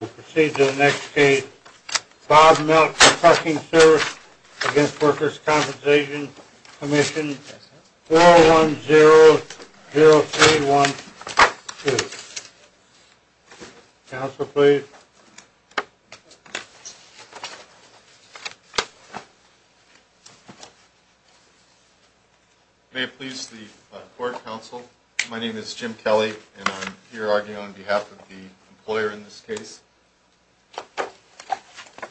We'll proceed to the next case. Bob Melton Trucking Service v. Workers' Compensation Commission, 410-0312. Counsel, please. May it please the court, counsel. My name is Jim Kelly, and I'm here arguing on behalf of the employer in this case.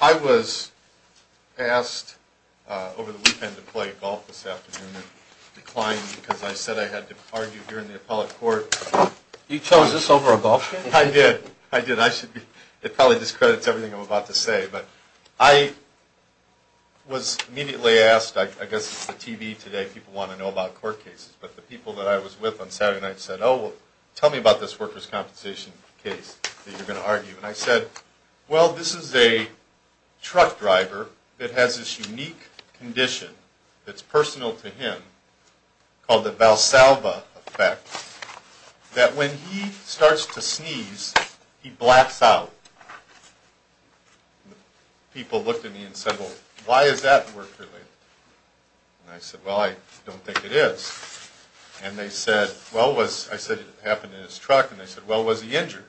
I was asked over the weekend to play golf this afternoon and declined because I said I had to argue here in the appellate court. You chose this over a golf game? I did, I did. It probably discredits everything I'm about to say. But I was immediately asked, I guess it's the TV today, people want to know about court cases. But the people that I was with on Saturday night said, oh, well, tell me about this workers' compensation case that you're going to argue. And I said, well, this is a truck driver that has this unique condition that's personal to him called the Valsalva effect, that when he starts to sneeze, he blacks out. People looked at me and said, well, why is that work-related? And I said, well, I don't think it is. And they said, well, was, I said it happened in his truck, and they said, well, was he injured?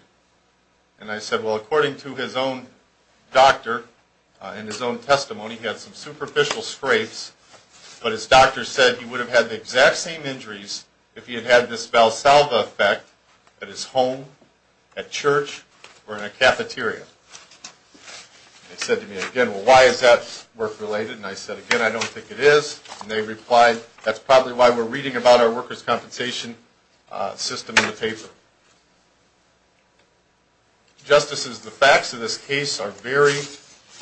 And I said, well, according to his own doctor and his own testimony, he had some superficial scrapes, but his doctor said he would have had the exact same injuries if he had had this Valsalva effect at his home, at church, or in a cafeteria. They said to me again, well, why is that work-related? And I said, again, I don't think it is. And they replied, that's probably why we're reading about our workers' compensation system in the paper. Justices, the facts of this case are very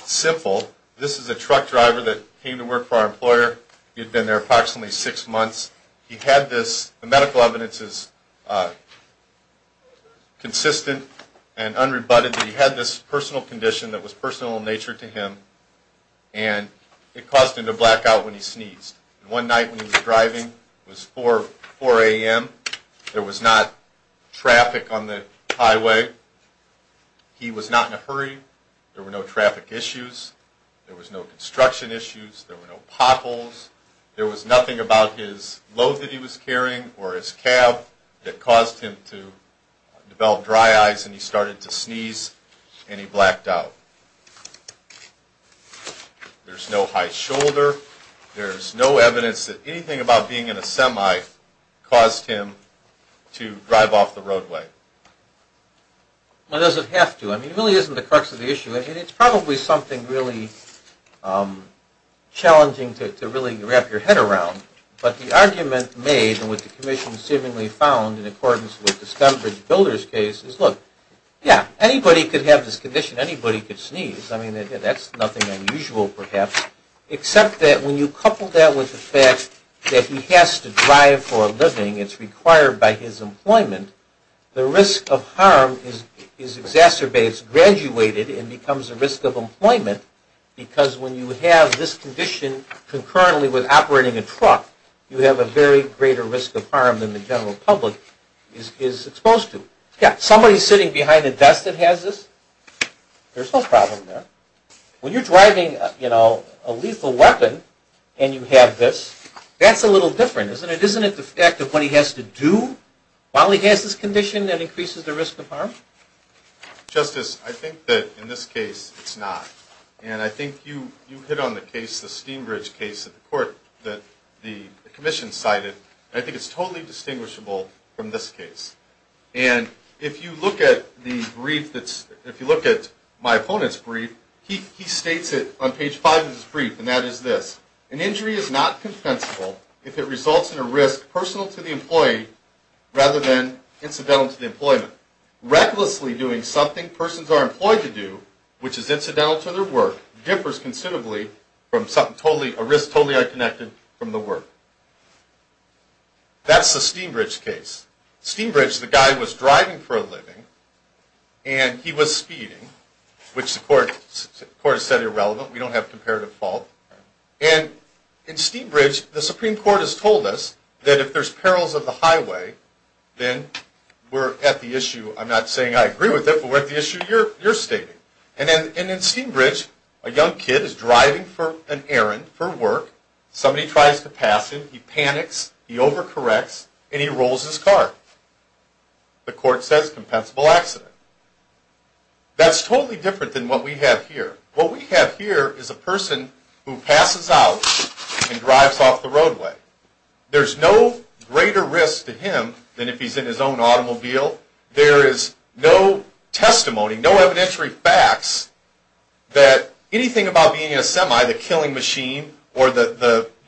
simple. This is a truck driver that came to work for our employer. He had been there approximately six months. He had this, the medical evidence is consistent and unrebutted, that he had this personal condition that was personal in nature to him, and it caused him to black out when he sneezed. One night when he was driving, it was 4 a.m., there was not traffic on the highway. He was not in a hurry. There were no traffic issues. There was no construction issues. There were no potholes. There was nothing about his load that he was carrying or his cab that caused him to develop dry eyes, and he started to sneeze, and he blacked out. There's no high shoulder. There's no evidence that anything about being in a semi caused him to drive off the roadway. Well, does it have to? I mean, it really isn't the crux of the issue, and it's probably something really challenging to really wrap your head around, but the argument made, and what the Commission seemingly found in accordance with the Stembridge Builders case, is, look, yeah, anybody could have this condition. Anybody could sneeze. I mean, that's nothing unusual, perhaps, except that when you couple that with the fact that he has to drive for a living, it's required by his employment, the risk of harm is exacerbated. It's graduated and becomes a risk of employment because when you have this condition concurrently with operating a truck, you have a very greater risk of harm than the general public is exposed to. Yeah, somebody sitting behind a desk that has this? There's no problem there. When you're driving a lethal weapon and you have this, that's a little different, isn't it? Isn't it the fact of what he has to do while he has this condition that increases the risk of harm? Justice, I think that in this case it's not, and I think you hit on the case, the Stembridge case, that the Commission cited, and I think it's totally distinguishable from this case. And if you look at the brief that's, if you look at my opponent's brief, he states it on page 5 of his brief, and that is this. An injury is not compensable if it results in a risk personal to the employee rather than incidental to the employment. Recklessly doing something persons are employed to do, which is incidental to their work, differs considerably from something totally, a risk totally unconnected from the work. That's the Stembridge case. Stembridge, the guy was driving for a living, and he was speeding, which the court has said irrelevant. We don't have comparative fault. And in Stembridge, the Supreme Court has told us that if there's perils of the highway, then we're at the issue, I'm not saying I agree with it, but we're at the issue you're stating. And in Stembridge, a young kid is driving for an errand for work. Somebody tries to pass him. He panics. He overcorrects, and he rolls his car. The court says compensable accident. That's totally different than what we have here. What we have here is a person who passes out and drives off the roadway. There's no greater risk to him than if he's in his own automobile. There is no testimony, no evidentiary facts that anything about being in a semi, the killing machine, or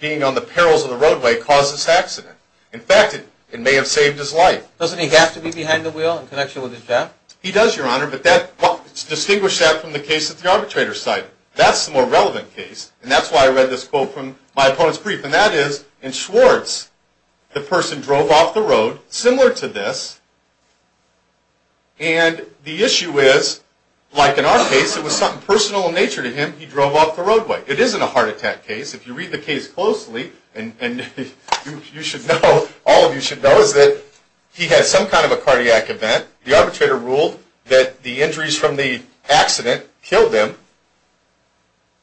being on the perils of the roadway caused this accident. In fact, it may have saved his life. Doesn't he have to be behind the wheel in connection with his job? He does, Your Honor, but distinguish that from the case at the arbitrator's side. That's the more relevant case, and that's why I read this quote from my opponent's brief, and that is, in Schwartz, the person drove off the road similar to this, and the issue is, like in our case, it was something personal in nature to him. He drove off the roadway. It isn't a heart attack case. If you read the case closely, and you should know, all of you should know, is that he had some kind of a cardiac event. The arbitrator ruled that the injuries from the accident killed him,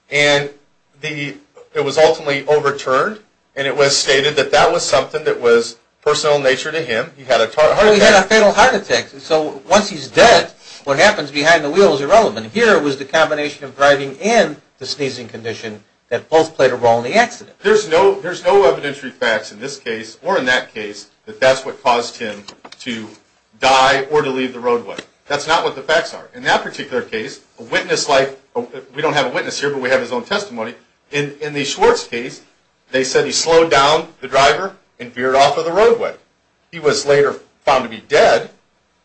and it was ultimately overturned, and it was stated that that was something that was personal in nature to him. He had a heart attack. He had a fatal heart attack. So once he's dead, what happens behind the wheel is irrelevant. Here was the combination of driving and the sneezing condition that both played a role in the accident. There's no evidentiary facts in this case or in that case that that's what caused him to die or to leave the roadway. That's not what the facts are. In that particular case, we don't have a witness here, but we have his own testimony. In the Schwartz case, they said he slowed down the driver and veered off of the roadway. He was later found to be dead,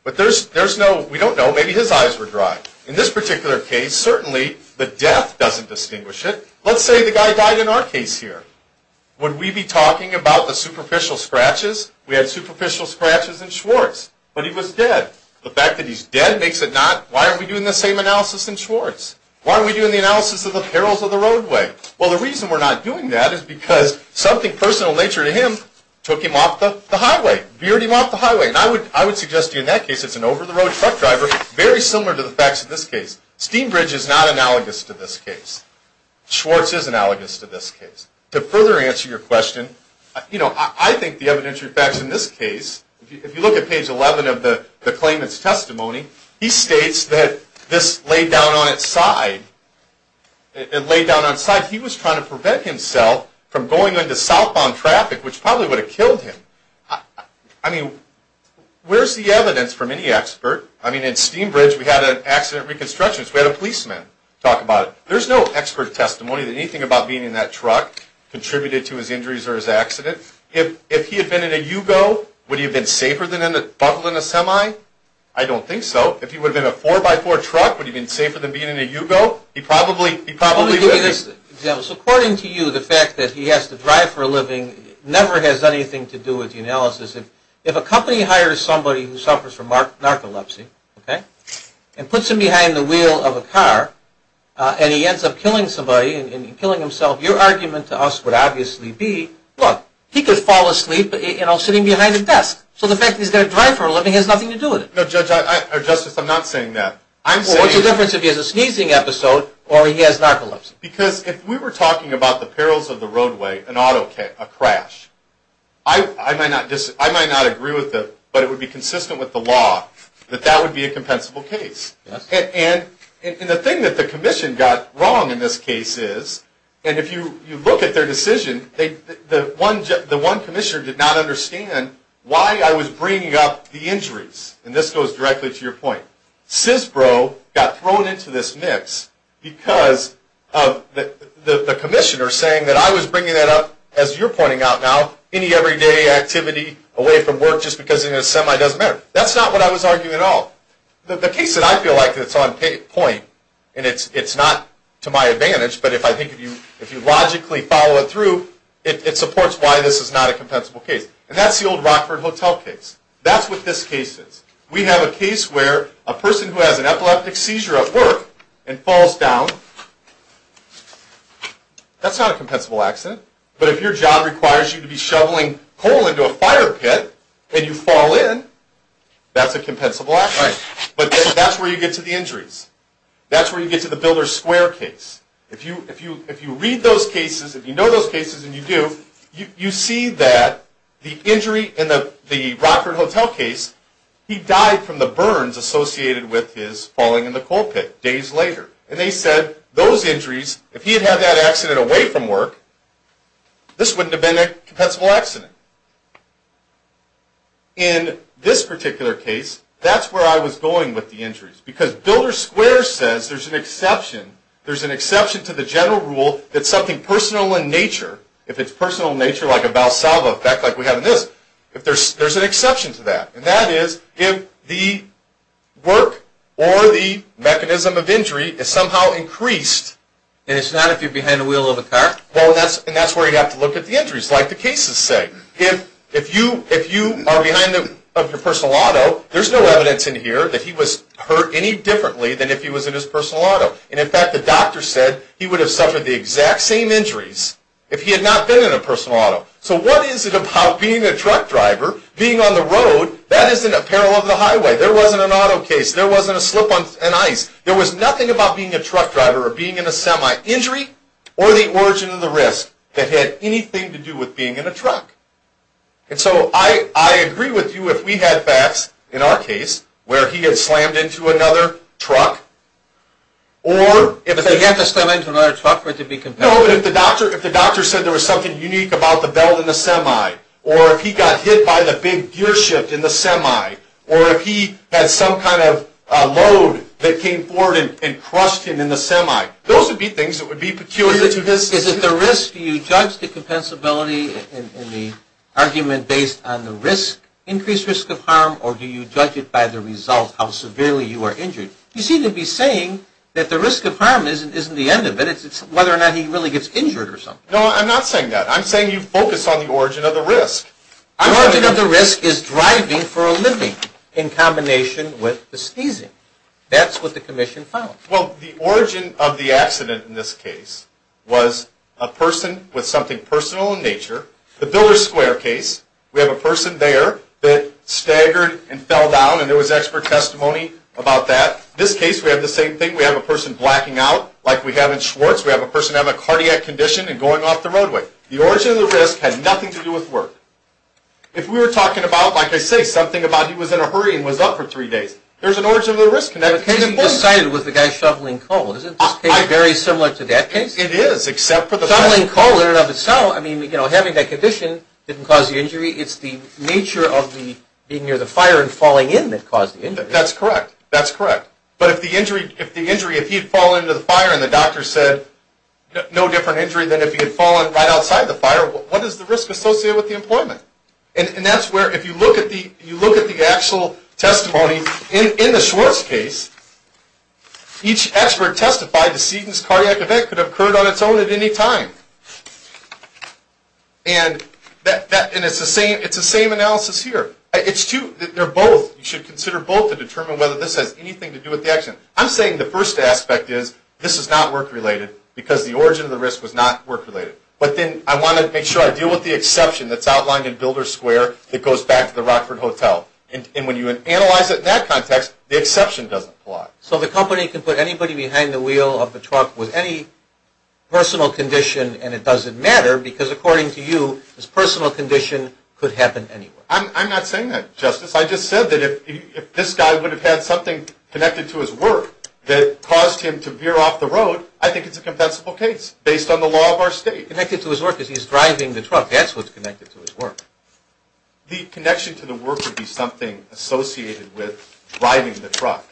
but we don't know. Maybe his eyes were dry. In this particular case, certainly the death doesn't distinguish it. Let's say the guy died in our case here. Would we be talking about the superficial scratches? We had superficial scratches in Schwartz, but he was dead. The fact that he's dead makes it not. Why aren't we doing the same analysis in Schwartz? Why aren't we doing the analysis of the perils of the roadway? Well, the reason we're not doing that is because something personal in nature to him took him off the highway, veered him off the highway. And I would suggest to you in that case it's an over-the-road truck driver, very similar to the facts in this case. Steambridge is not analogous to this case. Schwartz is analogous to this case. To further answer your question, you know, I think the evidentiary facts in this case, if you look at page 11 of the claimant's testimony, he states that this laid down on its side. It laid down on its side. He was trying to prevent himself from going into southbound traffic, which probably would have killed him. I mean, where's the evidence from any expert? I mean, in Steambridge we had an accident reconstructionist. We had a policeman talk about it. There's no expert testimony that anything about being in that truck contributed to his injuries or his accident. If he had been in a Yugo, would he have been safer than buckled in a semi? I don't think so. If he would have been in a 4x4 truck, would he have been safer than being in a Yugo? He probably would have been. Let me give you this example. According to you, the fact that he has to drive for a living never has anything to do with the analysis. If a company hires somebody who suffers from narcolepsy, okay, and puts him behind the wheel of a car, and he ends up killing somebody and killing himself, your argument to us would obviously be, look, he could fall asleep sitting behind a desk. So the fact that he's got to drive for a living has nothing to do with it. No, Justice, I'm not saying that. What's the difference if he has a sneezing episode or he has narcolepsy? Because if we were talking about the perils of the roadway, an auto crash, I might not agree with it, but it would be consistent with the law that that would be a compensable case. And the thing that the Commission got wrong in this case is, and if you look at their decision, the one Commissioner did not understand why I was bringing up the injuries. And this goes directly to your point. CISBRO got thrown into this mix because of the Commissioner saying that I was bringing that up, as you're pointing out now, any everyday activity away from work just because you're in a semi doesn't matter. That's not what I was arguing at all. The case that I feel like is on point, and it's not to my advantage, but I think if you logically follow it through, it supports why this is not a compensable case. And that's the old Rockford Hotel case. That's what this case is. We have a case where a person who has an epileptic seizure at work and falls down, that's not a compensable accident. But if your job requires you to be shoveling coal into a fire pit and you fall in, that's a compensable accident. But that's where you get to the injuries. That's where you get to the Builder Square case. If you read those cases, if you know those cases and you do, you see that the injury in the Rockford Hotel case, he died from the burns associated with his falling in the coal pit days later. And they said those injuries, if he had had that accident away from work, this wouldn't have been a compensable accident. In this particular case, that's where I was going with the injuries because Builder Square says there's an exception. There's an exception to the general rule that something personal in nature, if it's personal in nature like a Valsalva effect like we have in this, there's an exception to that. And that is if the work or the mechanism of injury is somehow increased. And it's not if you're behind the wheel of a car? Well, and that's where you'd have to look at the injuries, like the cases say. If you are behind the wheel of your personal auto, there's no evidence in here that he was hurt any differently than if he was in his personal auto. And, in fact, the doctor said he would have suffered the exact same injuries if he had not been in a personal auto. So what is it about being a truck driver, being on the road? That isn't a parallel to the highway. There wasn't an auto case. There wasn't a slip on ice. There was nothing about being a truck driver or being in a semi-injury or the origin of the risk that had anything to do with being in a truck. And so I agree with you if we had facts, in our case, where he had slammed into another truck. If he had to slam into another truck, would it be compared? No, but if the doctor said there was something unique about the belt in the semi or if he got hit by the big gear shift in the semi or if he had some kind of load that came forward and crushed him in the semi, those would be things that would be peculiar to this. Is it the risk? Do you judge the compensability in the argument based on the increased risk of harm or do you judge it by the result, how severely you are injured? You seem to be saying that the risk of harm isn't the end of it. It's whether or not he really gets injured or something. No, I'm not saying that. I'm saying you focus on the origin of the risk. The origin of the risk is driving for a living in combination with the sneezing. That's what the commission found. Well, the origin of the accident in this case was a person with something personal in nature. The Biller Square case, we have a person there that staggered and fell down, and there was expert testimony about that. In this case, we have the same thing. We have a person blacking out like we have in Schwartz. We have a person having a cardiac condition and going off the roadway. The origin of the risk had nothing to do with work. If we were talking about, like I say, something about he was in a hurry and was up for three days, there's an origin of the risk. The case you just cited was the guy shoveling coal. Isn't this case very similar to that case? It is, except for the fact... Shoveling coal in and of itself, I mean, having that condition didn't cause the injury. It's the nature of being near the fire and falling in that caused the injury. That's correct. That's correct. But if the injury, if he had fallen into the fire and the doctor said no different injury than if he had fallen right outside the fire, what is the risk associated with the employment? And that's where, if you look at the actual testimony in the Schwartz case, each expert testified that Seton's cardiac event could have occurred on its own at any time. And it's the same analysis here. They're both, you should consider both to determine whether this has anything to do with the accident. I'm saying the first aspect is this is not work-related because the origin of the risk was not work-related. But then I want to make sure I deal with the exception that's outlined in Builder Square that goes back to the Rockford Hotel. And when you analyze it in that context, the exception doesn't apply. So the company can put anybody behind the wheel of the truck with any personal condition and it doesn't matter because, according to you, this personal condition could happen anywhere. I'm not saying that, Justice. I just said that if this guy would have had something connected to his work that caused him to veer off the road, I think it's a compensable case based on the law of our state. Connected to his work because he's driving the truck. That's what's connected to his work. The connection to the work would be something associated with driving the truck.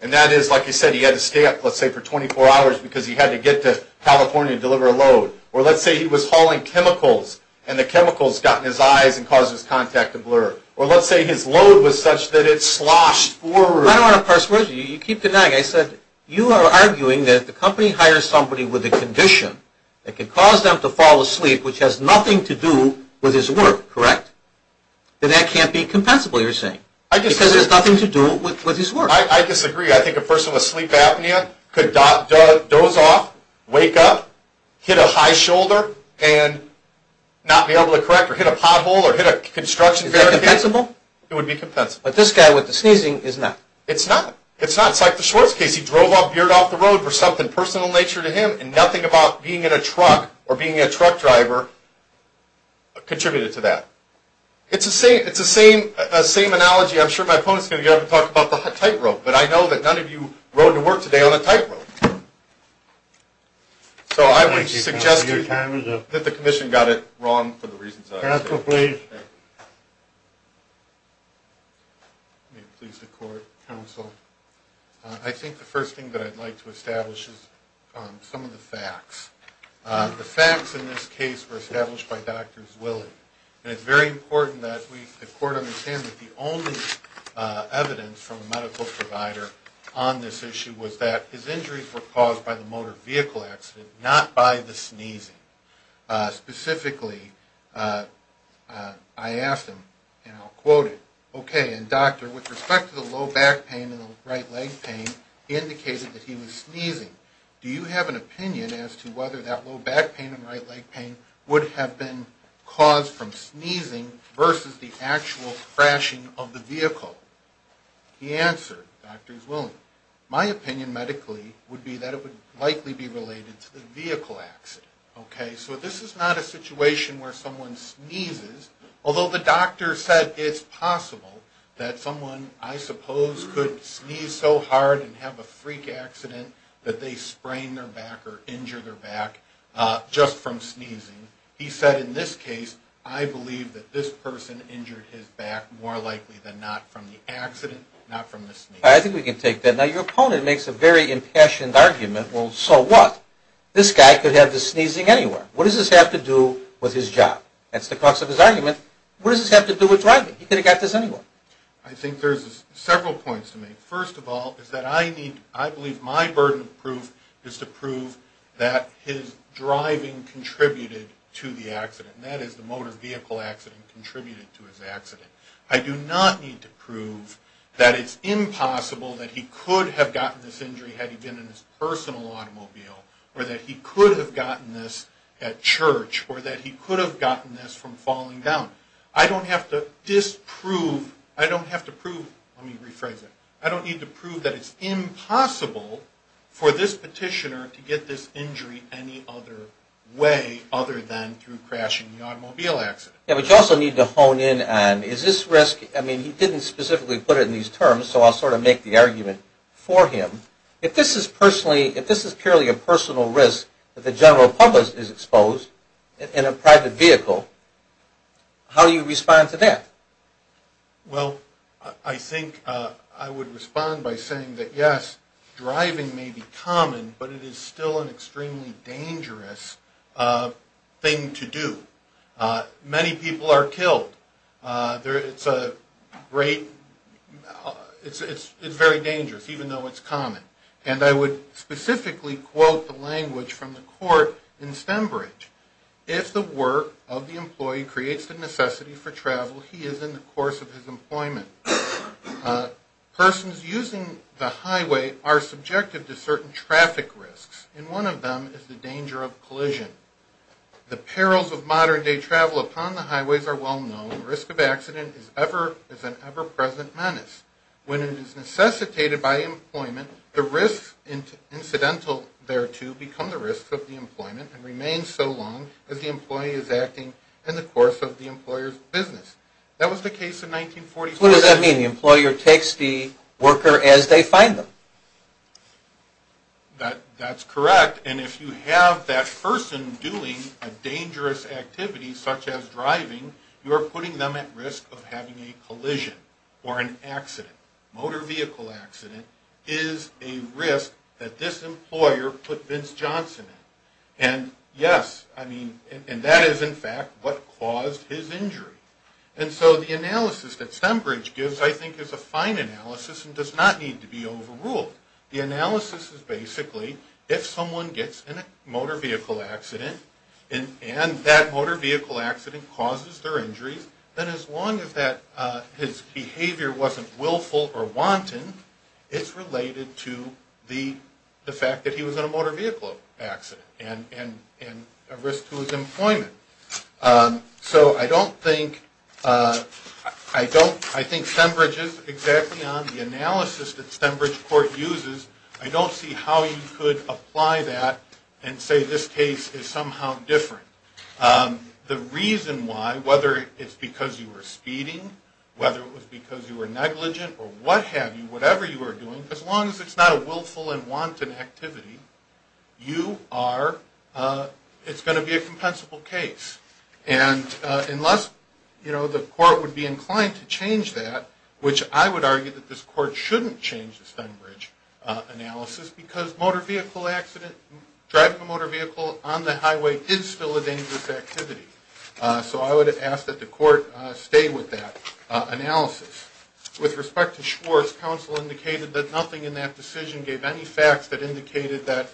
And that is, like you said, he had to stay up, let's say, for 24 hours because he had to get to California to deliver a load. Or let's say he was hauling chemicals and the chemicals got in his eyes and caused his contact to blur. Or let's say his load was such that it sloshed forward. I don't want to persuade you. You keep denying. I said you are arguing that if the company hires somebody with a condition that can cause them to fall asleep, which has nothing to do with his work, correct? Then that can't be compensable, you're saying. I disagree. Because it has nothing to do with his work. I disagree. I think a person with sleep apnea could doze off, wake up, hit a high shoulder, and not be able to correct or hit a pothole or hit a construction barrier. Is that compensable? It would be compensable. But this guy with the sneezing is not. It's not. It's like the Schwartz case. He drove off, veered off the road for something personal in nature to him and nothing about being in a truck or being a truck driver contributed to that. It's the same analogy. I'm sure my opponent is going to get up and talk about the tightrope, but I know that none of you rode to work today on a tightrope. So I would suggest that the commission got it wrong for the reasons I've said. Counsel, please. Thank you. May it please the Court, Counsel. I think the first thing that I'd like to establish is some of the facts. The facts in this case were established by Dr. Zwilling, and it's very important that the Court understand that the only evidence from a medical provider on this issue was that his injuries were caused by the motor vehicle accident, not by the sneezing. Specifically, I asked him, and I'll quote it, okay, and doctor, with respect to the low back pain and the right leg pain, he indicated that he was sneezing. Do you have an opinion as to whether that low back pain and right leg pain would have been caused from sneezing versus the actual crashing of the vehicle? He answered, Dr. Zwilling, My opinion medically would be that it would likely be related to the vehicle accident. Okay? So this is not a situation where someone sneezes, although the doctor said it's possible that someone, I suppose, could sneeze so hard and have a freak accident that they sprain their back or injure their back just from sneezing. He said in this case, I believe that this person injured his back more likely than not from the accident, not from the sneeze. I think we can take that. Now, your opponent makes a very impassioned argument. Well, so what? This guy could have the sneezing anywhere. What does this have to do with his job? That's the crux of his argument. What does this have to do with driving? He could have got this anywhere. I think there's several points to make. First of all is that I believe my burden of proof is to prove that his driving contributed to the accident, and that is the motor vehicle accident contributed to his accident. I do not need to prove that it's impossible that he could have gotten this injury had he been in his personal automobile or that he could have gotten this at church or that he could have gotten this from falling down. I don't have to disprove, I don't have to prove, let me rephrase that, I don't need to prove that it's impossible for this petitioner to get this injury any other way other than through crashing the automobile accident. Yeah, but you also need to hone in on is this risk, I mean, he didn't specifically put it in these terms, so I'll sort of make the argument for him. If this is purely a personal risk that the general public is exposed in a private vehicle, how do you respond to that? Well, I think I would respond by saying that, yes, driving may be common, but it is still an extremely dangerous thing to do. Many people are killed. It's a great, it's very dangerous, even though it's common. And I would specifically quote the language from the court in Stembridge. If the work of the employee creates the necessity for travel, he is in the course of his employment. Persons using the highway are subjective to certain traffic risks, and one of them is the danger of collision. The perils of modern-day travel upon the highways are well known. The risk of accident is an ever-present menace. When it is necessitated by employment, the risks incidental thereto become the risks of the employment and remain so long as the employee is acting in the course of the employer's business. That was the case in 1945. What does that mean? The employer takes the worker as they find them? That's correct. And if you have that person doing a dangerous activity, such as driving, you are putting them at risk of having a collision or an accident. Motor vehicle accident is a risk that this employer put Vince Johnson in. And, yes, I mean, and that is in fact what caused his injury. And so the analysis that Stembridge gives, I think, is a fine analysis and does not need to be overruled. The analysis is basically if someone gets in a motor vehicle accident and that motor vehicle accident causes their injury, then as long as his behavior wasn't willful or wanton, it's related to the fact that he was in a motor vehicle accident and a risk to his employment. So I don't think Stembridge is exactly on the analysis that Stembridge Court uses. I don't see how you could apply that and say this case is somehow different. The reason why, whether it's because you were speeding, whether it was because you were negligent, or what have you, whatever you were doing, as long as it's not a willful and wanton activity, you are, it's going to be a compensable case. And unless, you know, the court would be inclined to change that, which I would argue that this court shouldn't change the Stembridge analysis because motor vehicle accident, driving a motor vehicle on the highway is still a dangerous activity. So I would ask that the court stay with that analysis. With respect to Schwartz, counsel indicated that nothing in that decision gave any facts that indicated that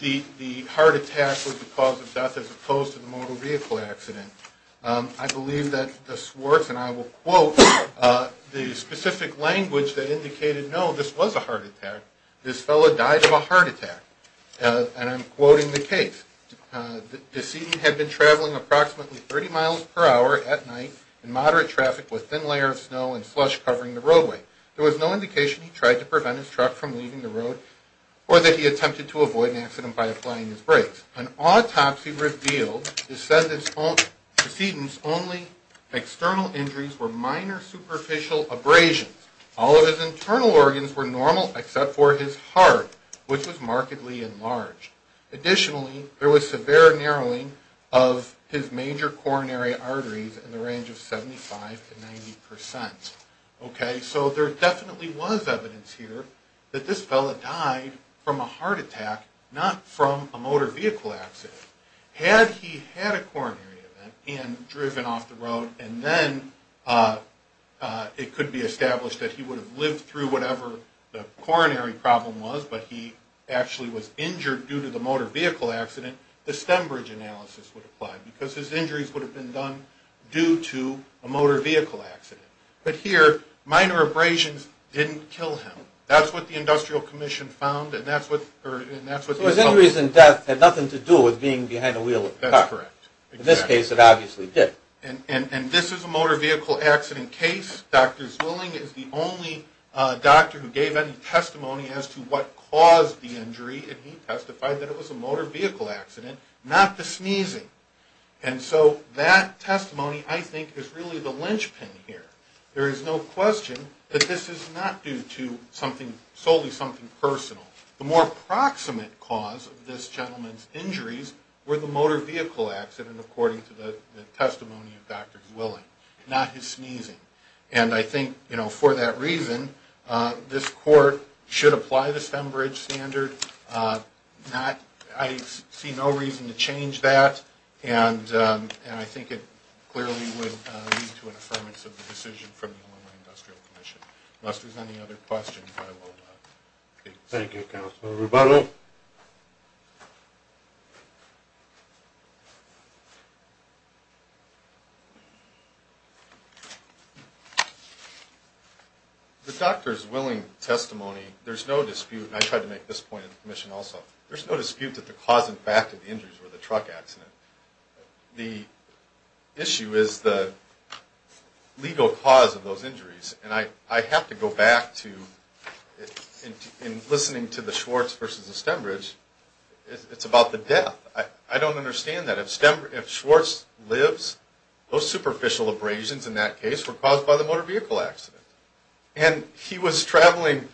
the heart attack was the cause of death as opposed to the motor vehicle accident. I believe that the Schwartz, and I will quote the specific language that indicated, no, this was a heart attack, this fellow died of a heart attack. And I'm quoting the case. The decedent had been traveling approximately 30 miles per hour at night in moderate traffic with thin layer of snow and slush covering the roadway. There was no indication he tried to prevent his truck from leaving the road or that he attempted to avoid an accident by applying his brakes. An autopsy revealed the decedent's only external injuries were minor superficial abrasions. All of his internal organs were normal except for his heart, which was markedly enlarged. Additionally, there was severe narrowing of his major coronary arteries in the range of 75 to 90 percent. Okay, so there definitely was evidence here that this fellow died from a heart attack, not from a motor vehicle accident. Had he had a coronary event and driven off the road, and then it could be established that he would have lived through whatever the coronary problem was, but he actually was injured due to the motor vehicle accident, the stem bridge analysis would apply because his injuries would have been done due to a motor vehicle accident. But here, minor abrasions didn't kill him. That's what the Industrial Commission found, and that's what these studies show. So his injuries and death had nothing to do with being behind the wheel of the car. That's correct. In this case, it obviously did. And this is a motor vehicle accident case. Dr. Zwilling is the only doctor who gave any testimony as to what caused the injury, and he testified that it was a motor vehicle accident, not the sneezing. And so that testimony, I think, is really the linchpin here. There is no question that this is not due to something, solely something personal. The more proximate cause of this gentleman's injuries were the motor vehicle accident, according to the testimony of Dr. Zwilling, not his sneezing. And I think, you know, for that reason, this court should apply the stem bridge standard. I see no reason to change that, and I think it clearly would lead to an affirmation of the decision from the Illinois Industrial Commission. Unless there's any other questions, I will not take this. Thank you, Counselor Rubato. The doctor's Zwilling testimony, there's no dispute, and I tried to make this point in the commission also, there's no dispute that the cause and fact of the injuries were the truck accident. The issue is the legal cause of those injuries, and I have to go back to, in listening to the Schwartz versus the stem bridge, it's about the death. I don't understand that. If Schwartz lives, those superficial abrasions in that case were caused by the motor vehicle accident. And he was traveling,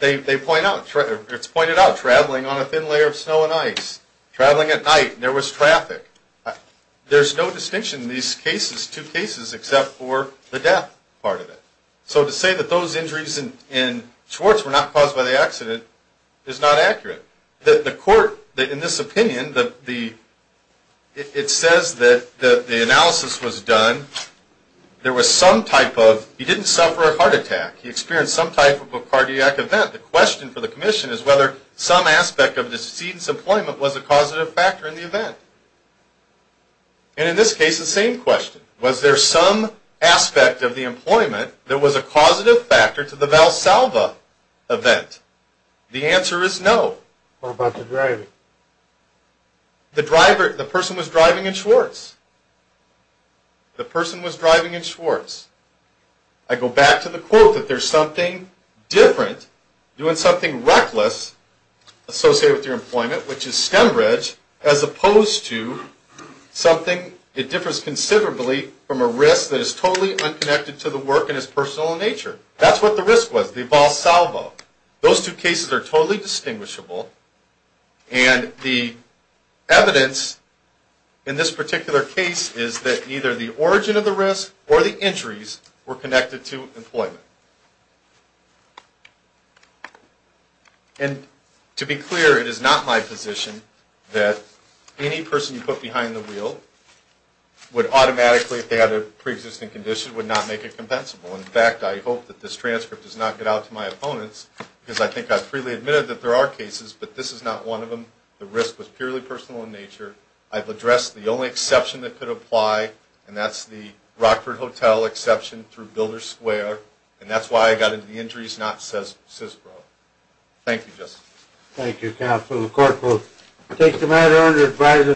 they point out, it's pointed out, traveling on a thin layer of snow and ice, traveling at night, there was traffic. There's no distinction in these cases, two cases, except for the death part of it. So to say that those injuries in Schwartz were not caused by the accident is not accurate. The court, in this opinion, it says that the analysis was done. There was some type of, he didn't suffer a heart attack. He experienced some type of a cardiac event. The question for the commission is whether some aspect of the decedent's employment was a causative factor in the event. And in this case, the same question. Was there some aspect of the employment that was a causative factor to the Valsalva event? The answer is no. What about the driving? The person was driving in Schwartz. The person was driving in Schwartz. I go back to the quote that there's something different, doing something reckless, associated with your employment, which is stem bridge, as opposed to something, it differs considerably from a risk that is totally unconnected to the work and is personal in nature. That's what the risk was, the Valsalva. Those two cases are totally distinguishable. And the evidence in this particular case is that either the origin of the risk or the injuries were connected to employment. And to be clear, it is not my position that any person you put behind the wheel would automatically, if they had a preexisting condition, would not make it compensable. In fact, I hope that this transcript does not get out to my opponents, because I think I've freely admitted that there are cases, but this is not one of them. The risk was purely personal in nature. I've addressed the only exception that could apply, and that's the Rockford Hotel exception through Builder Square, and that's why I got into the injuries, not CISPRO. Thank you, Justice. Thank you, Counsel. The court will take the matter under advisory.